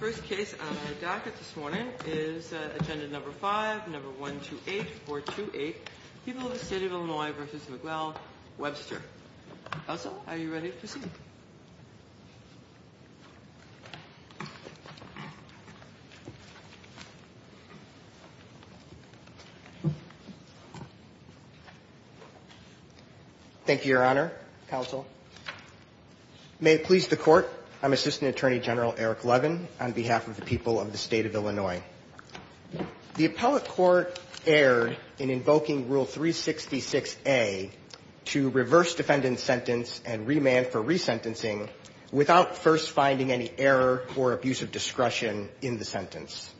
First case on our docket this morning is Agenda No. 5, No. 128428 People of the State of Illinois v. Miguel Webster Counsel, are you ready to proceed? Thank you, Your Honor. Counsel May it please the Court, I'm Assistant Attorney General Eric Levin on behalf of the people of the State of Illinois. The appellate court erred in invoking Rule 366A to reverse defendant's sentence and remand for resentencing without first finding any error or abuse of discretion in the sentence.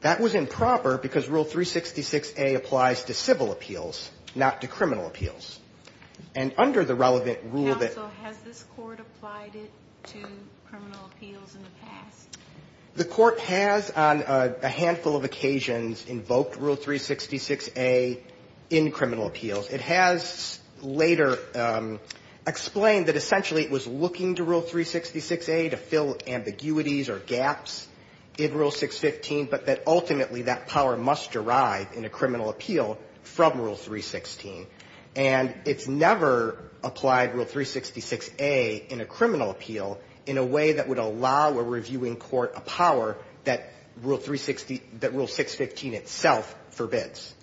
That was improper because Rule 366A applies to civil appeals, not to criminal appeals. And under the relevant rule that Counsel, has this Court applied it to criminal appeals in the past? The Court has on a handful of occasions invoked Rule 366A in criminal appeals. It has later explained that essentially it was looking to Rule 366A to fill ambiguities or gaps in Rule 615, but that ultimately that power must arrive in a criminal appeal from Rule 316. And it's never applied Rule 366A in a criminal appeal in a way that would allow a reviewing court a power that Rule 615 itself forbids.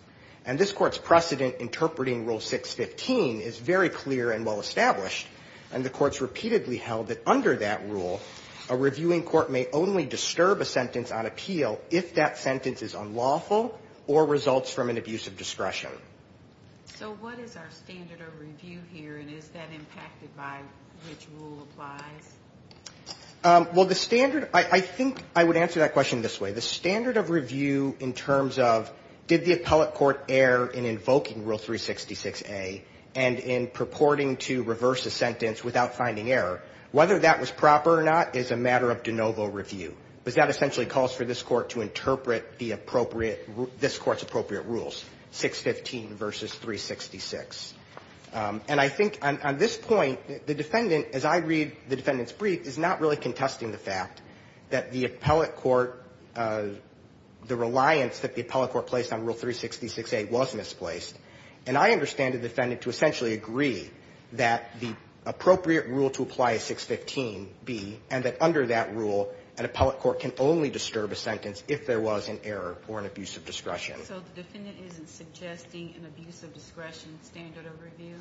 And this Court's precedent interpreting Rule 615 is very clear and well established. And the Court's repeatedly held that under that rule, a reviewing court may only disturb a sentence on appeal if that sentence is unlawful or results from an abuse of discretion. So what is our standard of review here and is that impacted by which rule applies? Well, the standard, I think I would answer that question this way. The standard of review in terms of did the appellate court err in invoking Rule 366A and in purporting to reverse a sentence without finding error, whether that was proper or not is a matter of de novo review. Because that essentially calls for this Court to interpret the appropriate this Court's appropriate rules, 615 versus 366. And I think on this point, the defendant, as I read the defendant's brief, is not really contesting the fact that the appellate court, the reliance that the appellate court placed on Rule 366A was misplaced. And I understand the defendant to essentially agree that the appropriate rule to apply is 615B, and that under that rule, an appellate court can only disturb a sentence if there was an error or an abuse of discretion. So the defendant isn't suggesting an abuse of discretion standard of review?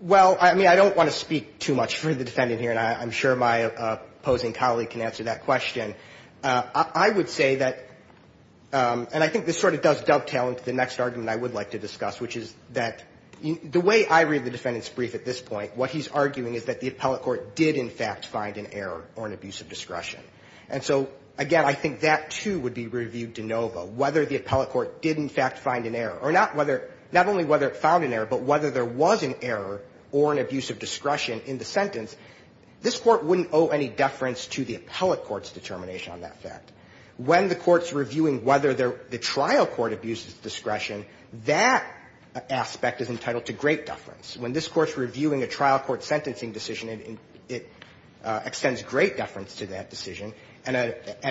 Well, I mean, I don't want to speak too much for the defendant here, and I'm sure my opposing colleague can answer that question. I would say that, and I think this sort of does dovetail into the next argument I would like to discuss, which is that the way I read the defendant's brief at this point, what he's arguing is that the appellate court did, in fact, find an error or an abuse of discretion. And so, again, I think that, too, would be reviewed de novo, whether the appellate court did, in fact, find an error. Or not whether – not only whether it found an error, but whether there was an error or an abuse of discretion in the sentence. This Court wouldn't owe any deference to the appellate court's determination on that fact. When the Court's reviewing whether the trial court abuses discretion, that aspect is entitled to great deference. When this Court's reviewing a trial court's sentencing decision, it extends great deference to that decision. And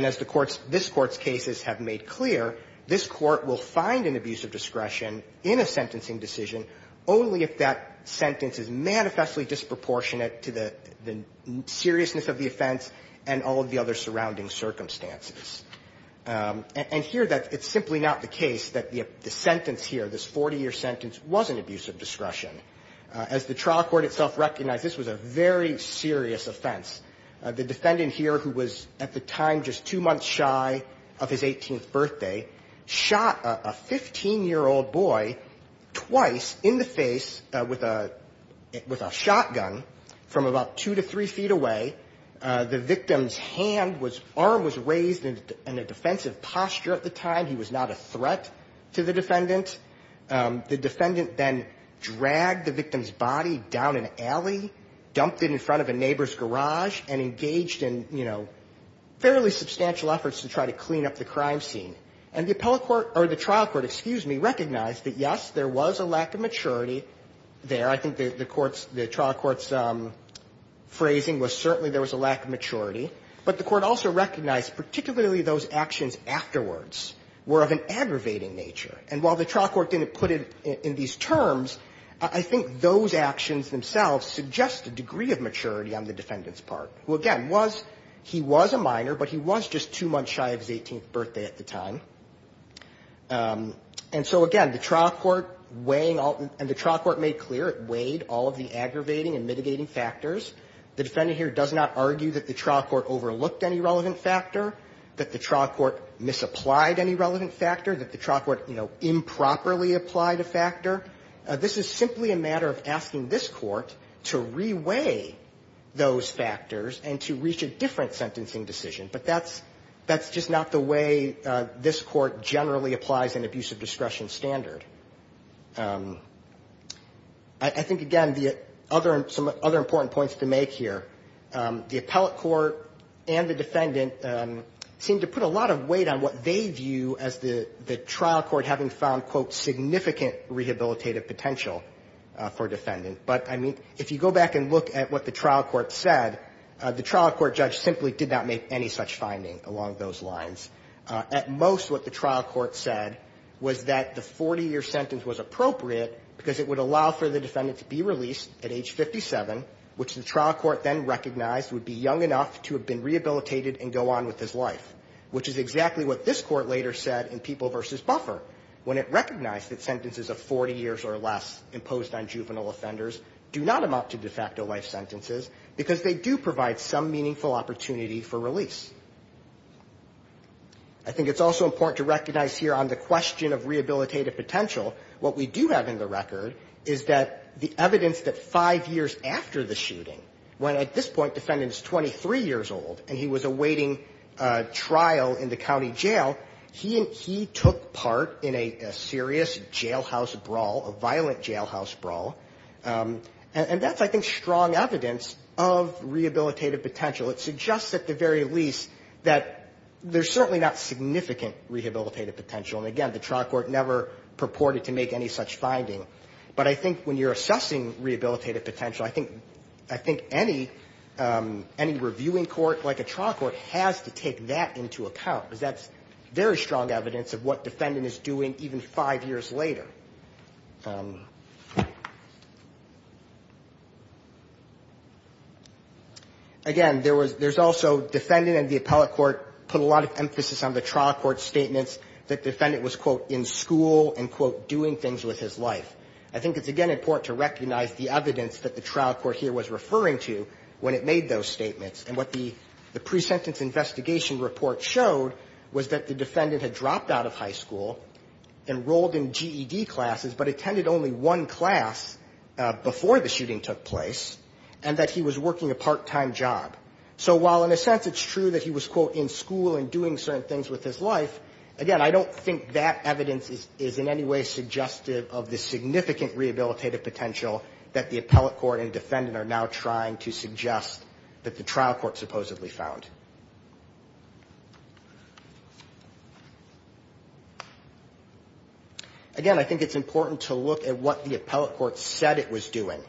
as the Court's – this Court's cases have made clear, this Court will find an abuse of discretion in a sentencing decision only if that sentence is manifestly disproportionate to the seriousness of the offense and all of the other surrounding circumstances. And here, it's simply not the case that the sentence here, this 40-year sentence, was an abuse of discretion. As the trial court itself recognized, this was a very serious offense. The defendant here, who was at the time just two months shy of his 18th birthday, shot a 15-year-old boy twice in the face with a – with a shotgun from about two to three feet away. The victim's hand was – arm was raised in a defensive posture at the time. He was not a threat to the defendant. The defendant then dragged the victim's body down an alley, dumped it in front of a neighbor's garage, and engaged in, you know, fairly substantial efforts to try to clean up the crime scene. And the appellate court – or the trial court, excuse me, recognized that, yes, there was a lack of maturity there. I think the court's – the trial court's phrasing was certainly there was a lack of maturity. But the court also recognized particularly those actions afterwards were of an aggravating nature. And while the trial court didn't put it in these terms, I think those actions themselves suggest a degree of maturity on the defendant's part, who, again, was – he was a minor, but he was just two months shy of his 18th birthday at the time. And so, again, the trial court weighing all – and the trial court made clear it weighed all of the aggravating and mitigating factors. The defendant here does not argue that the trial court overlooked any relevant factor, that the trial court misapplied any relevant factor, that the trial court, you know, improperly applied a factor. This is simply a matter of asking this court to re-weigh those factors and to reach a different sentencing decision. But that's – that's just not the way this court generally applies an abuse of discretion standard. I think, again, the other – some other important points to make here. The appellate court and the defendant seem to put a lot of weight on what they view as the – the trial court having found, quote, significant rehabilitative potential for a defendant. But, I mean, if you go back and look at what the trial court said, the trial court judge simply did not make any such finding along those lines. At most, what the trial court said was that the 40-year sentence was appropriate because it would allow for the defendant to be released at age 57, which the trial court then recognized would be young enough to have been rehabilitated and go on with his life, which is exactly what this court later said in People v. Buffer, when it recognized that sentences of 40 years or less imposed on juvenile offenders do not amount to de facto life sentences because they do provide some meaningful opportunity for release. I think it's also important to recognize here on the question of rehabilitative potential, what we do have in the record is that the evidence that five years after the shooting, when at this point the defendant is 23 years old and he was awaiting trial in the county jail, he took part in a serious jailhouse brawl, a violent brawl, and the trial court did not make any such finding. And again, the trial court never purported to make any such finding, but I think when you're assessing rehabilitative potential, I think any reviewing court like a trial court has to take that into account because that's very strong evidence of what defendant is doing even five years later. Again, there was also defendant and the appellate court put a lot of emphasis on the trial court statements that defendant was, quote, in school and, quote, doing things with his life. I think it's, again, important to recognize the evidence that the trial court here was referring to when it made those statements. And what the pre-sentence investigation report showed was that the defendant had dropped out of high school, enrolled in GED classes, but attended only one class before the shooting took place, and that he was working a part-time job. So while in a sense it's true that he was, quote, in school and doing certain things with his life, again, I don't think that evidence is in any way suggestive of the significant rehabilitative potential that the appellate court and defendant are now trying to suggest that the trial court supposedly found. Again, I think it's important to look at what the appellate court said it was doing.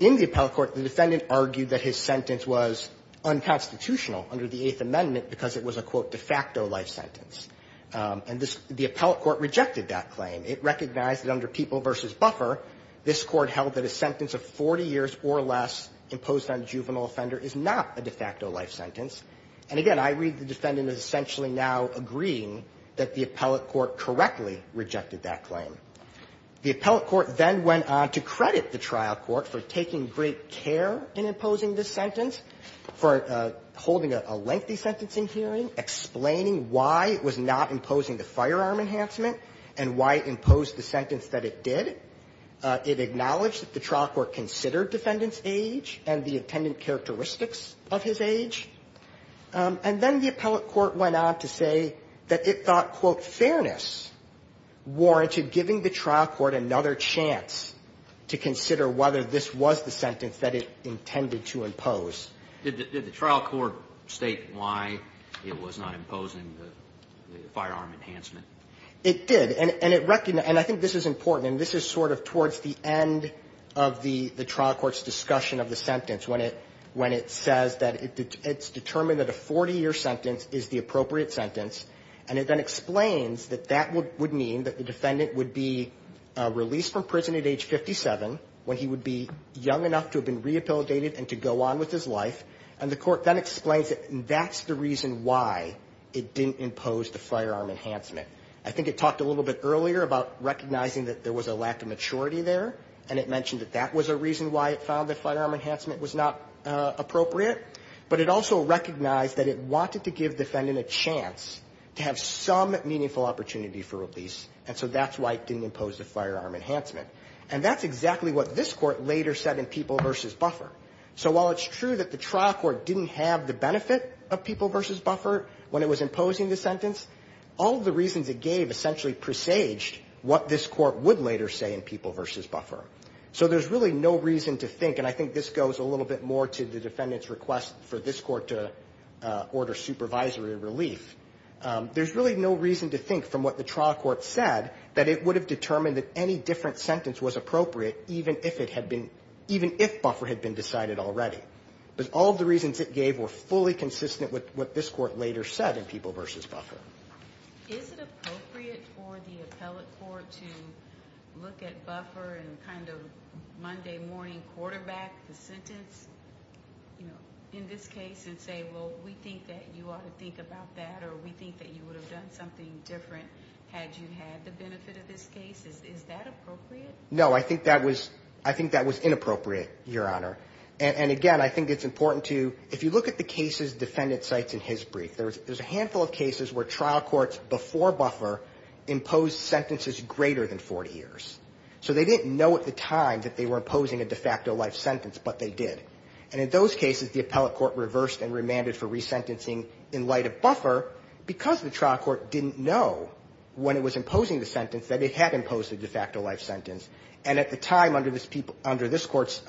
In the appellate court, the defendant argued that his sentence was unconstitutional under the Eighth Amendment because it was a, quote, de facto life sentence. And this the appellate court rejected that claim. It recognized that under People v. Buffer, this Court held that a sentence of 40 years or less imposed on a juvenile offender is not a de facto life sentence. And again, I read the defendant as essentially now agreeing that the appellate court correctly rejected that claim. The appellate court then went on to credit the trial court for taking great care in imposing this sentence, for holding a lengthy sentence in hearing, explaining why it was not imposing the firearm enhancement and why it imposed the sentence that it did. It acknowledged that the trial court considered defendant's age and the attendant characteristics of his age. And then the appellate court went on to say that it thought, quote, fairness warranted giving the trial court another chance to consider whether this was the sentence that it intended to impose. Did the trial court state why it was not imposing the firearm enhancement? It did. And it recognized, and I think this is important, and this is sort of towards the end of the trial court's discussion of the sentence, when it says that it's determined that a 40-year sentence is the appropriate sentence, and it then explains that that would mean that the defendant would be released from prison at age 57 when he would be young enough to have been rehabilitated and to go on with his life. And the court then explains that that's the reason why it didn't impose the firearm enhancement. I think it talked a little bit earlier about recognizing that there was a lack of maturity there, and it mentioned that that was a reason why it found the firearm enhancement was not appropriate. But it also recognized that it wanted to give the defendant a chance to have some meaningful opportunity for release, and so that's why it didn't impose the firearm enhancement. And that's exactly what this Court later said in People v. Buffer. So while it's true that the trial court didn't have the benefit of People v. Buffer when it was imposing the sentence, all of the reasons it gave essentially presaged what this Court would later say in People v. Buffer. So there's really no reason to think, and I think this goes a little bit more to the defendant's request for this Court to order supervisory relief, there's really no reason to think from what the trial court said that it would have determined that any different sentence was appropriate even if Buffer had been decided already. But all of the reasons it gave were fully consistent with what this Court later said in People v. Buffer. Is it appropriate for the appellate court to look at Buffer and kind of Monday morning quarterback the sentence in this case and say, well, we think that you ought to think about that, or we think that you would have done something different had you had the benefit of this case? Is that appropriate? No. I think that was inappropriate, Your Honor. And again, I think it's important to, if you look at the cases defendant cites in his brief, there's a handful of cases where trial courts before Buffer imposed sentences greater than 40 years. So they didn't know at the time that they were imposing a de facto life sentence, but they did. And in those cases, the appellate court reversed and remanded for resentencing in light of Buffer because the trial court didn't know when it was imposing the de facto life sentence. And at the time, under this Court's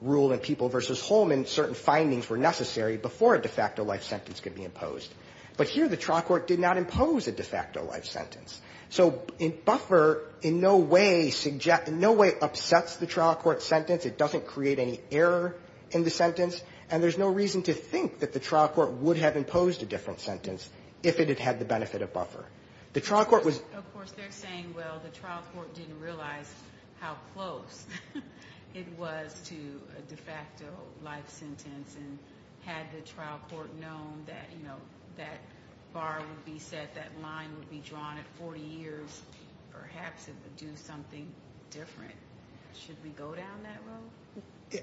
rule in People v. Holman, certain findings were necessary before a de facto life sentence could be imposed. But here the trial court did not impose a de facto life sentence. So Buffer in no way suggests, in no way upsets the trial court sentence. It doesn't create any error in the sentence. And there's no reason to think that the trial court would have imposed a different sentence if it had had the benefit of Buffer. The trial court was... Of course, they're saying, well, the trial court didn't realize how close it was to a de facto life sentence. And had the trial court known that, you know, that bar would be set, that line would be drawn at 40 years, perhaps it would do something different. Should we go down that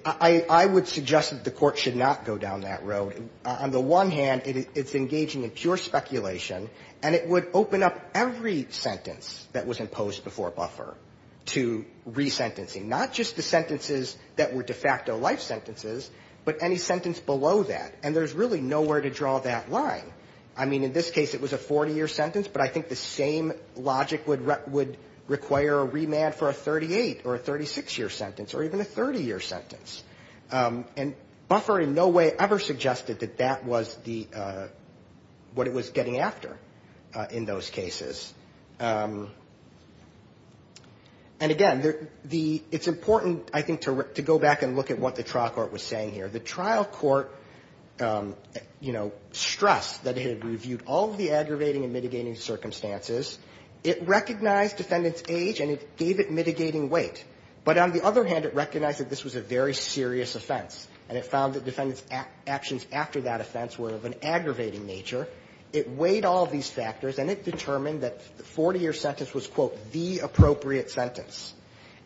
road? I would suggest that the court should not go down that road. On the one hand, it's engaging in pure speculation, and it would open up every sentence that was imposed before Buffer to resentencing, not just the sentences that were de facto life sentences, but any sentence below that. And there's really nowhere to draw that line. I mean, in this case it was a 40-year sentence, but I think the same logic would require a remand for a 38- or a 36-year sentence, or even a 30-year sentence. And Buffer in no way ever suggested that that was the... what it was getting after in those cases. And again, the... it's important, I think, to go back and look at what the trial court was saying here. The trial court, you know, stressed that it had reviewed all of the aggravating and mitigating circumstances. It recognized defendant's age, and it gave it mitigating weight. But on the other hand, it recognized that this was a very serious offense, and it found that defendant's actions after that offense were of an aggravating nature. It weighed all of these factors, and it determined that the 40-year sentence was, quote, the appropriate sentence.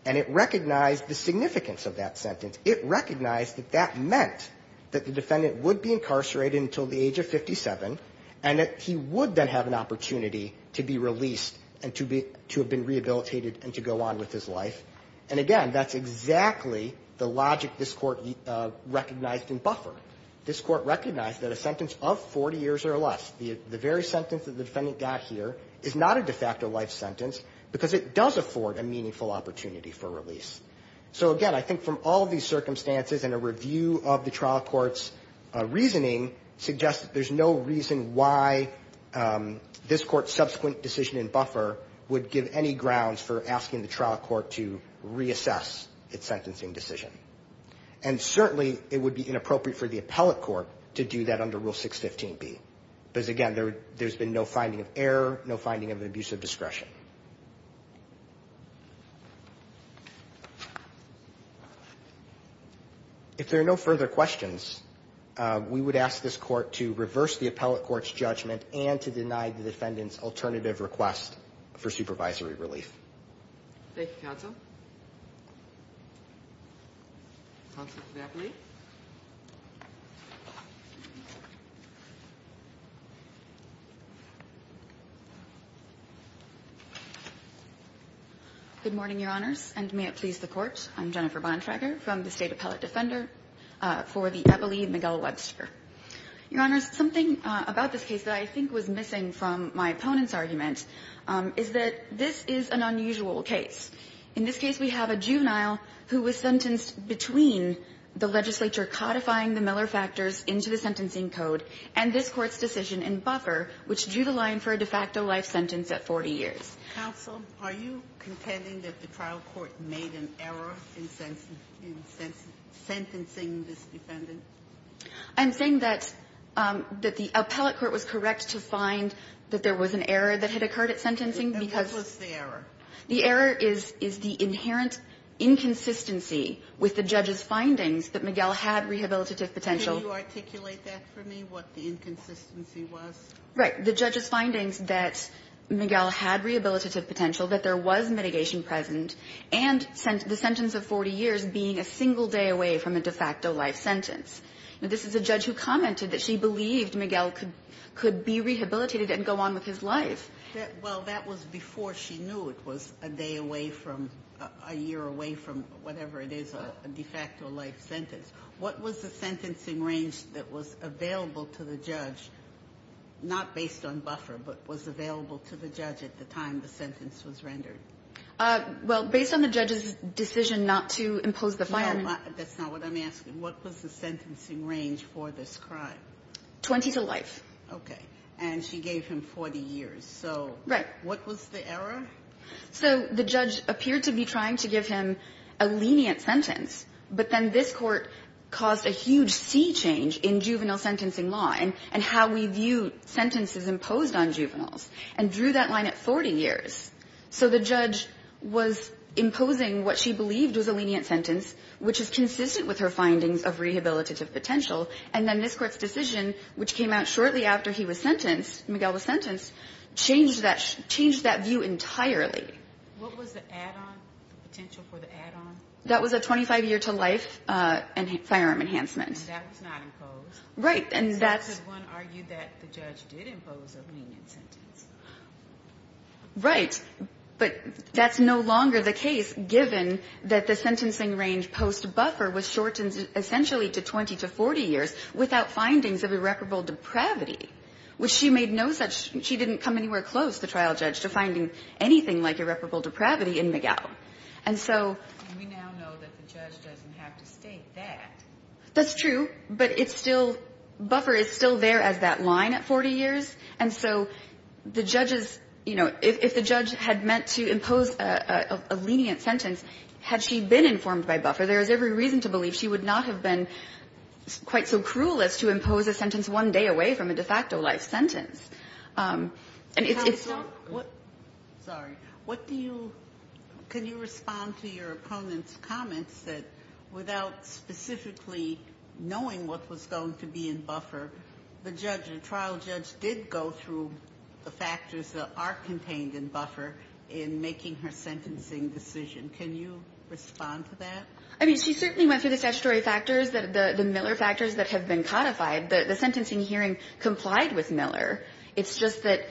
And it recognized the significance of that sentence. It recognized that that meant that the defendant would be incarcerated until the age of 57, and that he would then have an opportunity to be released and to be... to have been rehabilitated and to go on with his life. And again, that's exactly the logic this Court recognized in Buffer. This Court recognized that a sentence of 40 years or less, the very sentence that the defendant got here, is not a de facto life sentence because it does afford a meaningful opportunity for release. So again, I think from all of these circumstances and a review of the trial court's reasoning, suggests that there's no reason why this Court's subsequent decision in Buffer would give any grounds for asking the trial court to reassess its sentencing decision. And certainly, it would be inappropriate for the appellate court to do that under Rule 615B. Because again, there's been no finding of error, no finding of an abuse of discretion. If there are no further questions, we would ask this Court to reverse the appellate court's judgment and to deny the defendant's alternative request for supervisory relief. Thank you, counsel. Counsel, may I please? Good morning, Your Honors. And may it please the Court. I'm Jennifer Bontrager from the State Appellate Defender for the Ebole and Miguel Webster. Your Honors, something about this case that I think was missing from my opponent's argument is that this is an unusual case. In this case, we have a juvenile who was sentenced between the legislature codifying the Miller factors into the sentencing code and this Court's decision in Buffer which drew the line for a de facto life sentence at 40 years. Counsel, are you contending that the trial court made an error in sentencing this defendant? I'm saying that the appellate court was correct to find that there was an error that had occurred at sentencing because the error is the inherent inconsistency with the judge's findings that Miguel had rehabilitative potential. Can you articulate that for me, what the inconsistency was? Right. The judge's findings that Miguel had rehabilitative potential, that there was mitigation present, and the sentence of 40 years being a single day away from a de facto life sentence. Now, this is a judge who commented that she believed Miguel could be rehabilitated and go on with his life. Well, that was before she knew it was a day away from, a year away from whatever it is, a de facto life sentence. What was the sentencing range that was available to the judge, not based on Buffer, but was available to the judge at the time the sentence was rendered? Well, based on the judge's decision not to impose the fine. No, that's not what I'm asking. What was the sentencing range for this crime? 20 to life. Okay. And she gave him 40 years. So what was the error? So the judge appeared to be trying to give him a lenient sentence, but then this court caused a huge sea change in juvenile sentencing law and how we view sentences imposed on juveniles, and drew that line at 40 years. So the judge was imposing what she believed was a lenient sentence, which is consistent with her findings of rehabilitative potential. And then this court's decision, which came out shortly after he was sentenced, Miguel was sentenced, changed that view entirely. What was the add-on, the potential for the add-on? That was a 25-year-to-life firearm enhancement. And that was not imposed. Right. And that's one argued that the judge did impose a lenient sentence. Right. But that's no longer the case, given that the sentencing range post-Buffer was shortened essentially to 20 to 40 years without findings of irreparable depravity, which she made no such. She didn't come anywhere close, the trial judge, to finding anything like irreparable depravity in Miguel. And so we now know that the judge doesn't have to state that. That's true. But it's still, Buffer is still there as that line at 40 years. And so the judges, you know, if the judge had meant to impose a lenient sentence, had she been informed by Buffer, there is every reason to believe she would not have been quite so cruel as to impose a sentence one day away from a de facto life sentence. And it's still... Counsel, what... Sorry. What do you... Can you respond to your opponent's comments that without specifically knowing what was going to be in Buffer, the judge, the trial judge, did go through the factors that are contained in Buffer in making her sentencing decision. Can you respond to that? I mean, she certainly went through the statutory factors, the Miller factors that have been codified. The sentencing hearing complied with Miller. It's just that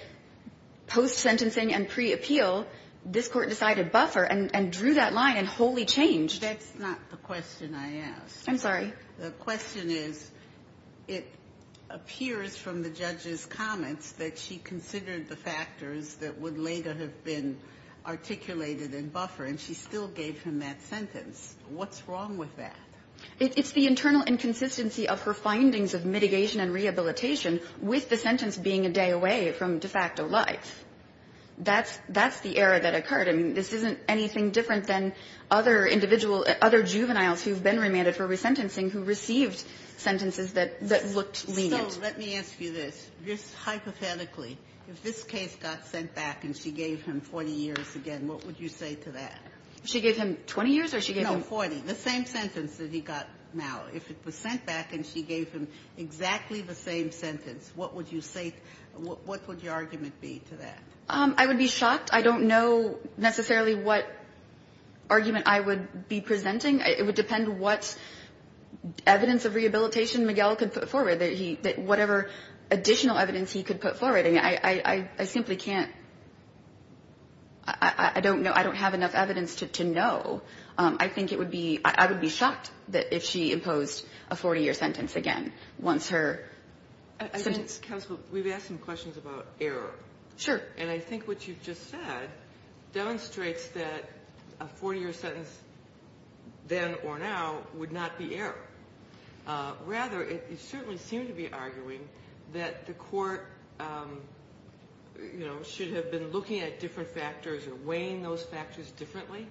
post-sentencing and pre-appeal, this Court decided Buffer and drew that line and wholly changed. That's not the question I asked. I'm sorry. The question is it appears from the judge's comments that she considered the factors that would later have been articulated in Buffer, and she still gave him that sentence. What's wrong with that? It's the internal inconsistency of her findings of mitigation and rehabilitation with the sentence being a day away from de facto life. That's the error that occurred. I mean, this isn't anything different than other individual, other juveniles who've been remanded for resentencing who received sentences that looked lenient. So let me ask you this. Just hypothetically, if this case got sent back and she gave him 40 years again, what would you say to that? She gave him 20 years or she gave him... No, 40. The same sentence that he got now. If it was sent back and she gave him exactly the same sentence, what would you say what would your argument be to that? I would be shocked. I don't know necessarily what argument I would be presenting. It would depend what evidence of rehabilitation Miguel could put forward, whatever additional evidence he could put forward. I simply can't. I don't know. I don't have enough evidence to know. I think it would be – I would be shocked if she imposed a 40-year sentence again once her sentence... Counsel, we've asked some questions about error. Sure. And I think what you've just said demonstrates that a 40-year sentence then or now would not be error. Rather, it certainly seemed to be arguing that the court should have been looking at different factors or weighing those factors differently.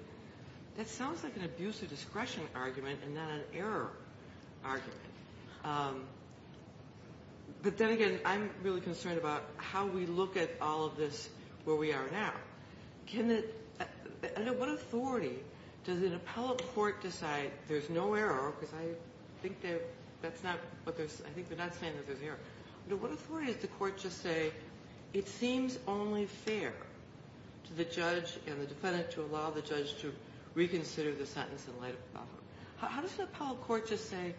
That sounds like an abuse of discretion argument and not an error argument. But then again, I'm really concerned about how we look at all of this where we are now. Under what authority does an appellate court decide there's no error, because I think they're not saying that there's an error. Under what authority does the court just say it seems only fair to the judge and the defendant to allow the judge to reconsider the sentence in light of the problem? How does the appellate court just say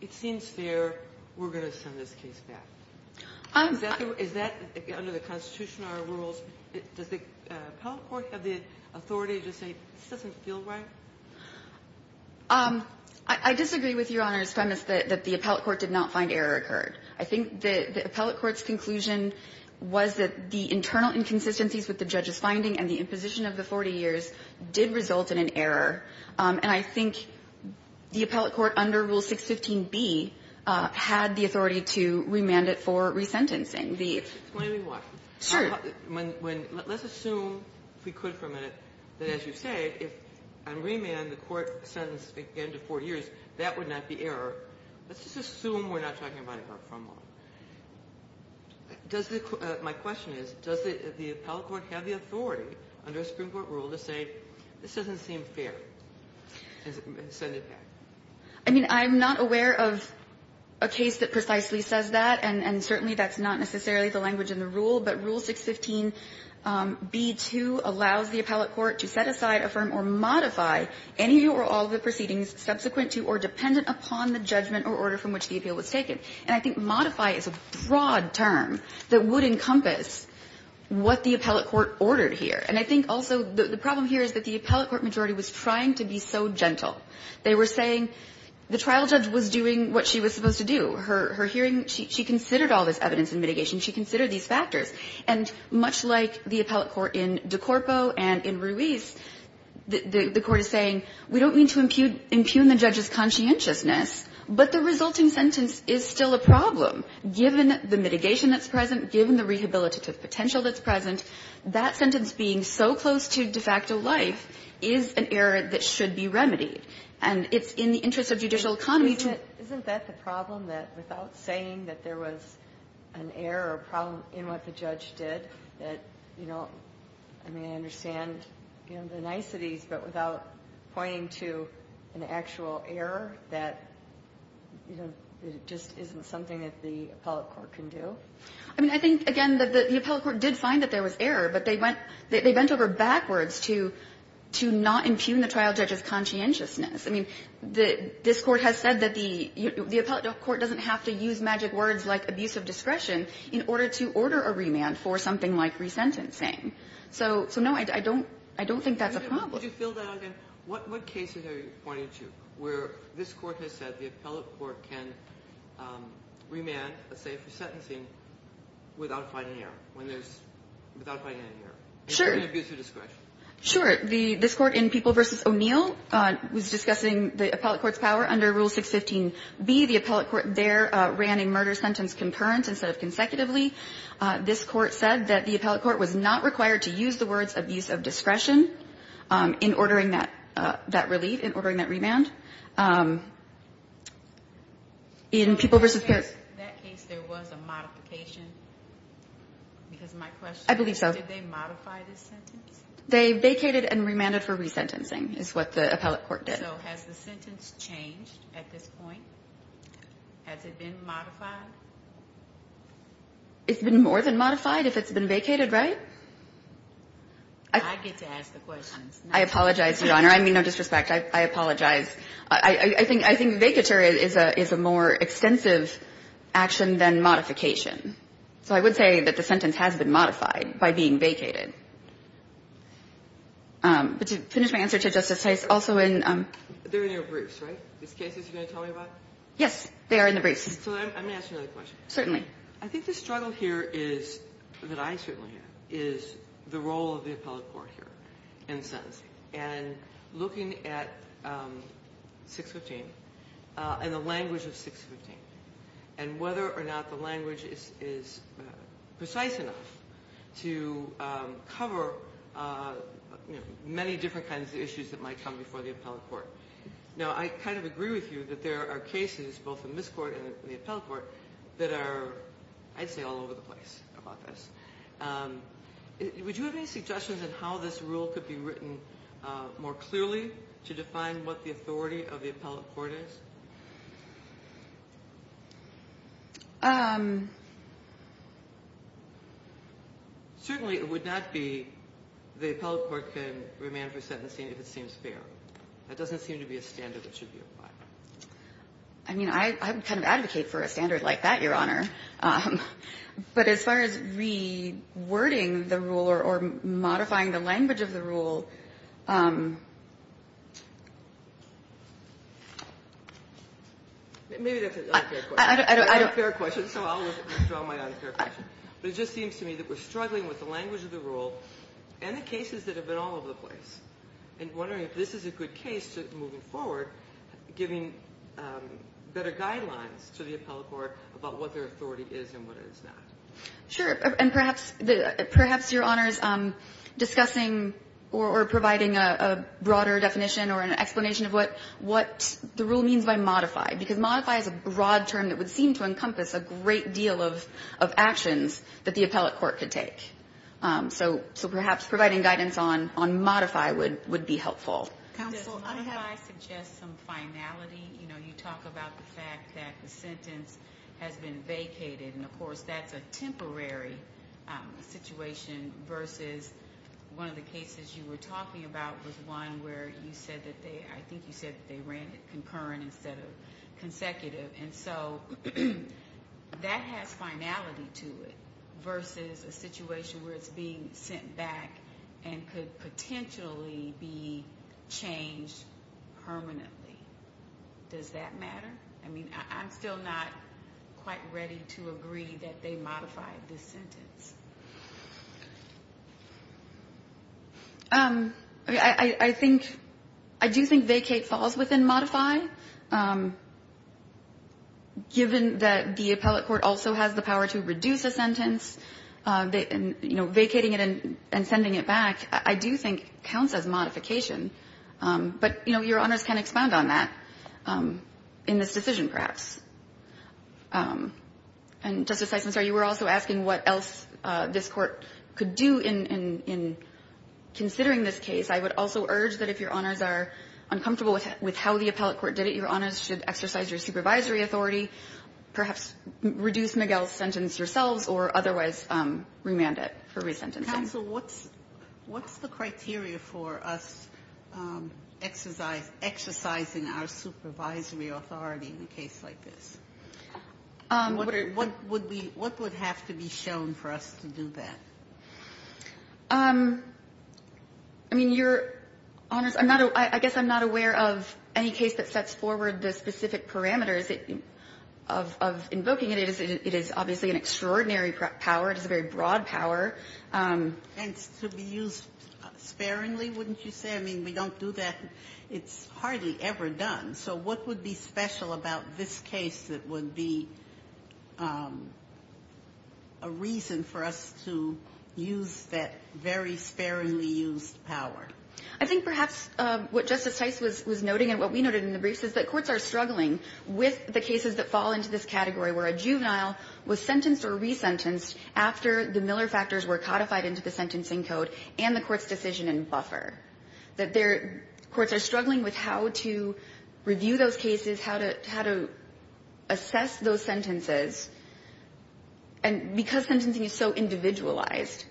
it seems fair, we're going to send this case back? Is that under the Constitution or our rules? Does the appellate court have the authority to say this doesn't feel right? I disagree with Your Honor's premise that the appellate court did not find error occurred. I think the appellate court's conclusion was that the internal inconsistencies with the judge's finding and the imposition of the 40 years did result in an error. And I think the appellate court under Rule 615B had the authority to remand it for resentencing. The ---- Kagan, explain to me why. Sure. Let's assume, if we could for a minute, that as you say, if I remand the court sentenced again to 40 years, that would not be error. Let's just assume we're not talking about a harm from law. Does the ---- my question is, does the appellate court have the authority under a supreme court rule to say this doesn't seem fair and send it back? I mean, I'm not aware of a case that precisely says that, and certainly that's not necessarily the language in the rule. But Rule 615B2 allows the appellate court to set aside, affirm, or modify any or all of the proceedings subsequent to or dependent upon the judgment or order from which the appeal was taken. And I think modify is a broad term that would encompass what the appellate court ordered here. And I think also the problem here is that the appellate court majority was trying to be so gentle. They were saying the trial judge was doing what she was supposed to do. Her hearing, she considered all this evidence and mitigation. She considered these factors. And much like the appellate court in De Corpo and in Ruiz, the court is saying, we don't mean to impugn the judge's conscientiousness, but the resulting sentence is still a problem, given the mitigation that's present, given the rehabilitative potential that's present, that sentence being so close to de facto life is an error that should be remedied. And it's in the interest of judicial economy to do that. Ginsburg. Isn't that the problem, that without saying that there was an error or problem in what the judge did, that, you know, I mean, I understand the niceties, but without pointing to an actual error that, you know, just isn't something that the appellate court can do? I mean, I think, again, that the appellate court did find that there was error, but they went they bent over backwards to not impugn the trial judge's conscientiousness. I mean, this Court has said that the appellate court doesn't have to use magic words like abuse of discretion in order to order a remand for something like resentencing. So, no, I don't think that's a problem. Would you fill that out again? What cases are you pointing to where this Court has said the appellate court can remand, let's say, for sentencing without finding an error, when there's, without finding an error? Sure. In abuse of discretion. Sure. The this Court in People v. O'Neill was discussing the appellate court's power under Rule 615B. The appellate court there ran a murder sentence concurrent instead of consecutively. This Court said that the appellate court was not required to use the words abuse of discretion. In ordering that, that relief, in ordering that remand, in People v. O'Neill. In that case, there was a modification? Because my question is, did they modify this sentence? They vacated and remanded for resentencing, is what the appellate court did. So, has the sentence changed at this point? Has it been modified? It's been more than modified if it's been vacated, right? I get to ask the questions. I apologize, Your Honor. I mean no disrespect. I apologize. I think vacature is a more extensive action than modification. So I would say that the sentence has been modified by being vacated. But to finish my answer to Justice Hayes, also in the briefs, right? These cases you're going to tell me about? Yes. They are in the briefs. So let me ask you another question. Certainly. I think the struggle here is, that I certainly have, is the role of the appellate court here in the sentence. And looking at 615, and the language of 615. And whether or not the language is precise enough to cover many different kinds of issues that might come before the appellate court. Now I kind of agree with you that there are cases, both in this court and the appellate court, that are, I'd say, all over the place about this. Would you have any suggestions on how this rule could be written more clearly to define what the authority of the appellate court is? Certainly it would not be, the appellate court can remand for sentencing if it seems fair. That doesn't seem to be a standard that should be applied. I mean, I would kind of advocate for a standard like that, Your Honor. But as far as re-wording the rule, or modifying the language of the rule. Maybe that's an unfair question. I don't. I don't. It's an unfair question, so I'll withdraw my unfair question. But it just seems to me that we're struggling with the language of the rule and the cases that have been all over the place. And wondering if this is a good case to, moving forward, giving better guidelines to the appellate court about what their authority is and what it is not. Sure. And perhaps, Your Honors, discussing or providing a broader definition or an explanation of what the rule means by modify. Because modify is a broad term that would seem to encompass a great deal of actions that the appellate court could take. So perhaps providing guidance on modify would be helpful. Counsel, I have- Does modify suggest some finality? You know, you talk about the fact that the sentence has been vacated. And of course, that's a temporary situation versus one of the cases you were talking about was one where you said that they, I think you said that they ran it concurrent instead of consecutive. And so that has finality to it versus a situation where it's being sent back and could potentially be changed permanently. Does that matter? I mean, I'm still not quite ready to agree that they modified this sentence. I think, I do think vacate falls within modify. Given that the appellate court also has the power to reduce a sentence, vacating it and sending it back, I do think counts as modification. But, you know, Your Honors can expand on that in this decision, perhaps. And Justice Eisenhower, you were also asking what else this court could do in considering this case. I would also urge that if Your Honors are uncomfortable with how the appellate court did it, Your Honors should exercise your supervisory authority. Perhaps reduce Miguel's sentence yourselves or otherwise remand it for resentencing. Counsel, what's the criteria for us exercising our supervisory authority in a case like this? What would have to be shown for us to do that? I mean, Your Honors, I guess I'm not aware of any case that sets forward the specific parameters of invoking it. It is obviously an extraordinary power. It is a very broad power. And to be used sparingly, wouldn't you say? I mean, we don't do that. It's hardly ever done. So what would be special about this case that would be a reason for us to use that very sparingly used power? I think perhaps what Justice Tice was noting and what we noted in the briefs is that courts are struggling with the cases that fall into this category where a juvenile was sentenced or resentenced after the Miller factors were codified into the sentencing code and the court's decision in buffer. Courts are struggling with how to review those cases, how to assess those sentences. And because sentencing is so individualized,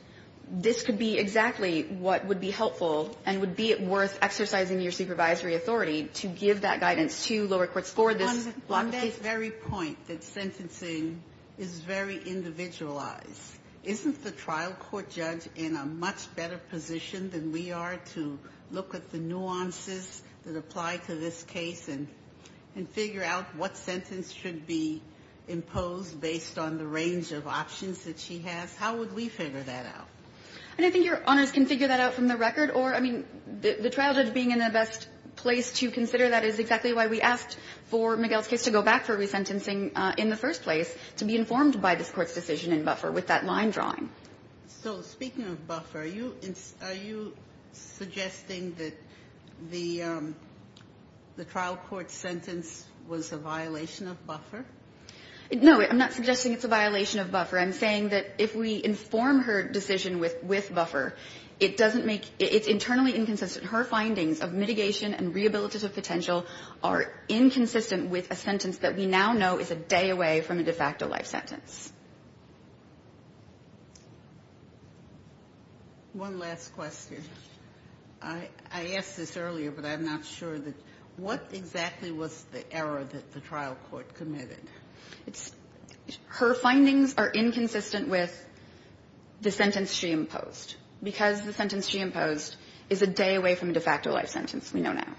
this could be exactly what would be helpful and would be worth exercising your supervisory authority to give that guidance to lower courts for this block of cases. On that very point, that sentencing is very individualized, isn't the trial court judge in a much better position than we are today? To look at the nuances that apply to this case and figure out what sentence should be imposed based on the range of options that she has? How would we figure that out? And I think your honors can figure that out from the record. Or I mean, the trial judge being in the best place to consider that is exactly why we asked for Miguel's case to go back for resentencing in the first place, to be informed by this court's decision in buffer with that line drawing. So speaking of buffer, are you suggesting that the trial court sentence was a violation of buffer? No, I'm not suggesting it's a violation of buffer. I'm saying that if we inform her decision with buffer, it doesn't make it's internally inconsistent. Her findings of mitigation and rehabilitative potential are inconsistent with a sentence that we now know is a day away from a de facto life sentence. One last question. I asked this earlier, but I'm not sure that what exactly was the error that the trial court committed? Her findings are inconsistent with the sentence she imposed. Because the sentence she imposed is a day away from a de facto life sentence we know now.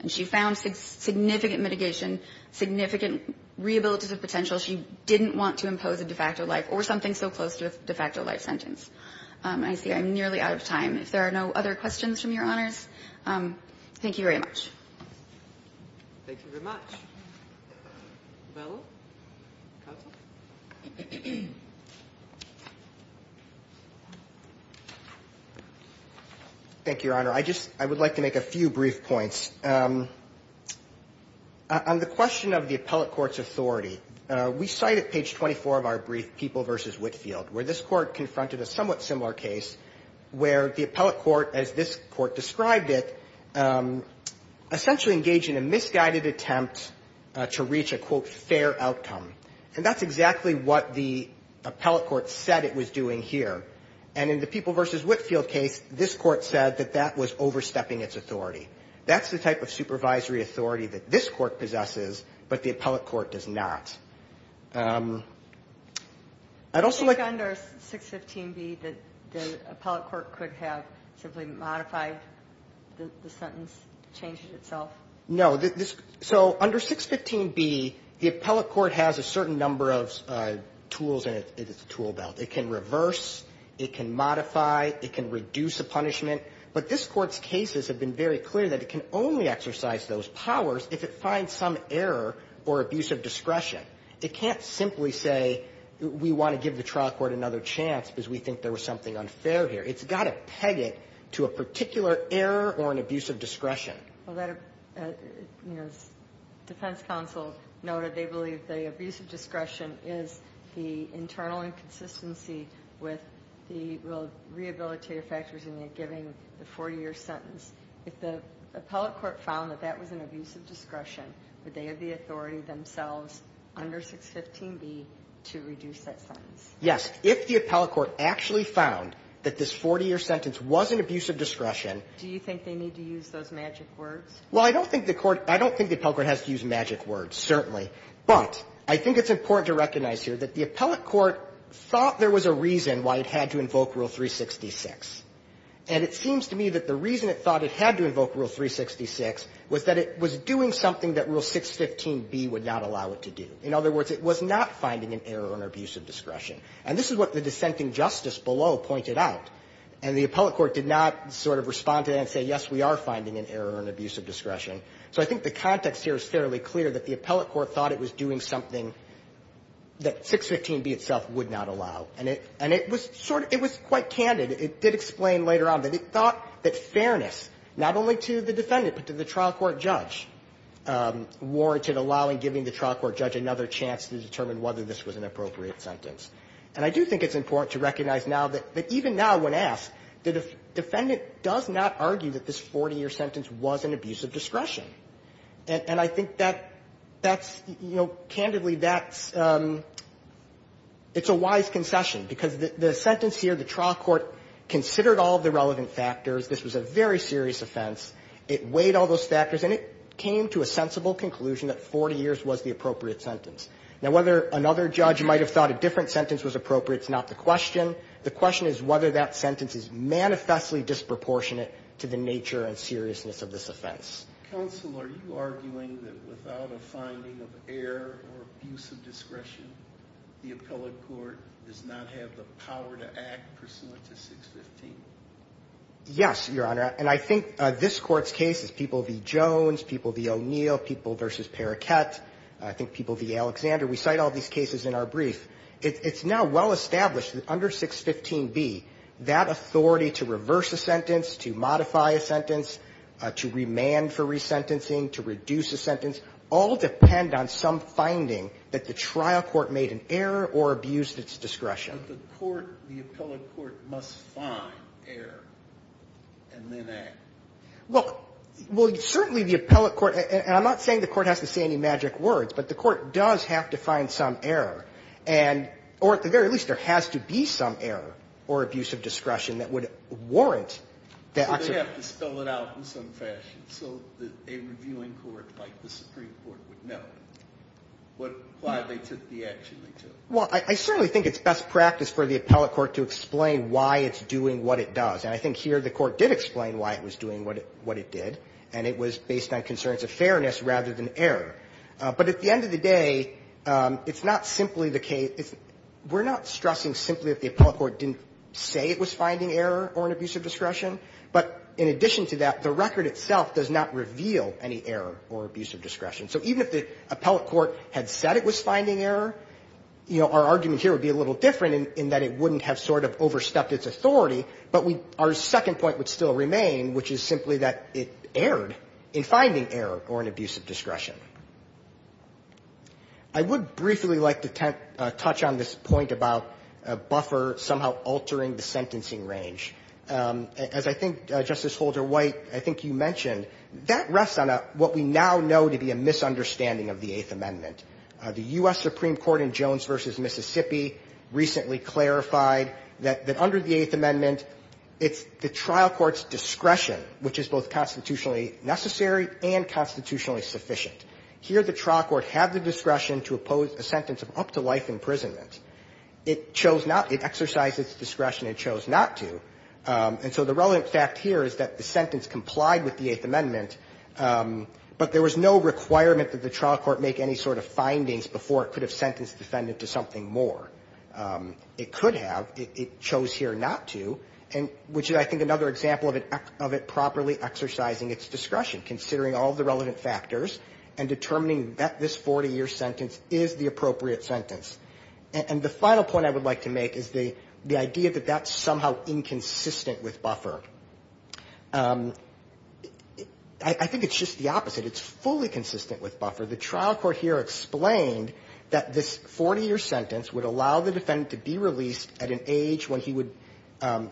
And she found significant mitigation, significant rehabilitative potential. She didn't want to impose a de facto life or something so close to a de facto life sentence. I see I'm nearly out of time. If there are no other questions from your honors, thank you very much. Thank you very much. Thank you, your honor. I would like to make a few brief points. On the question of the appellate court's authority, we cite at page 24 of our brief People v. Whitfield, where this court confronted a somewhat similar case where the appellate court, as this court described it, essentially engaged in a misguided attempt to reach a, quote, fair outcome. And that's exactly what the appellate court said it was doing here. And in the People v. Whitfield case, this court said that that was overstepping its authority. That's the type of supervisory authority that this court possesses, but the appellate court does not. I'd also like to... You think under 615B that the appellate court could have simply modified the sentence, changed it itself? No. So under 615B, the appellate court has a certain number of tools in its tool belt. It can reverse. It can modify. It can reduce a punishment. But this court's cases have been very clear that it can only exercise those powers if it finds some error or abuse of discretion. It can't simply say we want to give the trial court another chance because we think there was something unfair here. It's got to peg it to a particular error or an abuse of discretion. Well, that, as defense counsel noted, they believe the abuse of discretion is the internal inconsistency with the rehabilitative factors in giving the 40-year sentence. If the appellate court found that that was an abuse of discretion, would they have the authority themselves under 615B to reduce that sentence? Yes. If the appellate court actually found that this 40-year sentence was an abuse of discretion... Do you think they need to use those magic words? Well, I don't think the court, I don't think the appellate court has to use magic words, certainly. But I think it's important to recognize here that the appellate court thought there was a reason why it had to invoke Rule 366. And it seems to me that the reason it thought it had to invoke Rule 366 was that it was doing something that Rule 615B would not allow it to do. In other words, it was not finding an error or an abuse of discretion. And this is what the dissenting justice below pointed out. And the appellate court did not sort of respond to that and say, yes, we are finding an error or an abuse of discretion. So I think the context here is fairly clear that the appellate court thought it was doing something that 615B itself would not allow. And it was sort of, it was quite candid. It did explain later on that it thought that fairness, not only to the defendant, but to the trial court judge, warranted allowing, giving the trial court judge another chance to determine whether this was an appropriate sentence. And I do think it's important to recognize now that even now when asked, the defendant does not argue that this 40-year sentence was an abuse of discretion. And I think that that's, you know, candidly, that's, it's a wise concession. Because the sentence here, the trial court considered all of the relevant factors. This was a very serious offense. It weighed all those factors. And it came to a sensible conclusion that 40 years was the appropriate sentence. Now, whether another judge might have thought a different sentence was appropriate is not the question. The question is whether that sentence is manifestly disproportionate to the nature and seriousness of this offense. Sotomayor, are you arguing that without a finding of error or abuse of discretion, the appellate court does not have the power to act pursuant to 615? Yes, Your Honor. And I think this Court's cases, people v. Jones, people v. O'Neill, people v. Paraket, I think people v. Alexander, we cite all these cases in our brief. It's now well established that under 615b, that authority to reverse a sentence, to modify a sentence, to remand for resentencing, to reduce a sentence, all depend on some finding that the trial court made an error or abused its discretion. But the court, the appellate court must find error and then act. Well, certainly the appellate court, and I'm not saying the court has to say any magic words, but the court does have to find some error and, or at the very least, there has to be some error or abuse of discretion that would warrant that action. So they have to spell it out in some fashion so that a reviewing court like the Supreme Court would know what, why they took the action they took. Well, I certainly think it's best practice for the appellate court to explain why it's doing what it does. And I think here the court did explain why it was doing what it did, and it was based on concerns of fairness rather than error. But at the end of the day, it's not simply the case we're not stressing simply if the appellate court didn't say it was finding error or an abuse of discretion. But in addition to that, the record itself does not reveal any error or abuse of discretion. So even if the appellate court had said it was finding error, you know, our argument here would be a little different in that it wouldn't have sort of overstepped its authority, but we, our second point would still remain, which is simply that it erred in finding error or an abuse of discretion. I would briefly like to touch on this point about a buffer somehow altering the sentencing range. As I think Justice Holder White, I think you mentioned, that rests on what we now know to be a misunderstanding of the Eighth Amendment. The U.S. Supreme Court in Jones v. Mississippi recently clarified that under the Eighth Amendment, there is discretion, which is both constitutionally necessary and constitutionally sufficient. Here the trial court had the discretion to oppose a sentence of up to life imprisonment. It chose not. It exercised its discretion and chose not to. And so the relevant fact here is that the sentence complied with the Eighth Amendment, but there was no requirement that the trial court make any sort of findings before it could have sentenced the defendant to something more. It could have. It chose here not to, which is, I think, another example of it properly exercising its discretion, considering all of the relevant factors and determining that this 40-year sentence is the appropriate sentence. And the final point I would like to make is the idea that that's somehow inconsistent with buffer. I think it's just the opposite. It's fully consistent with buffer. The trial court here explained that this 40-year sentence would allow the defendant to be released at an age when he would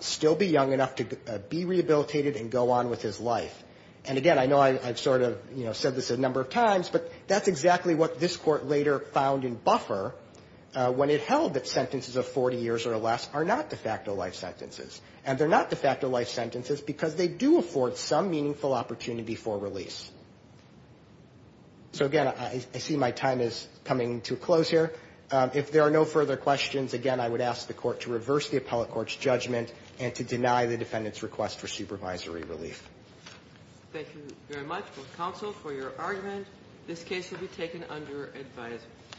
still be young enough to be rehabilitated and go on with his life. And, again, I know I've sort of, you know, said this a number of times, but that's exactly what this court later found in buffer when it held that sentences of 40 years or less are not de facto life sentences. And they're not de facto life sentences because they do afford some meaningful opportunity for release. So, again, I see my time is coming to a close here. If there are no further questions, again, I would ask the court to reverse the appellate court's judgment and to deny the defendant's request for supervisory relief. Thank you very much, both counsel, for your argument. This case will be taken under advisory.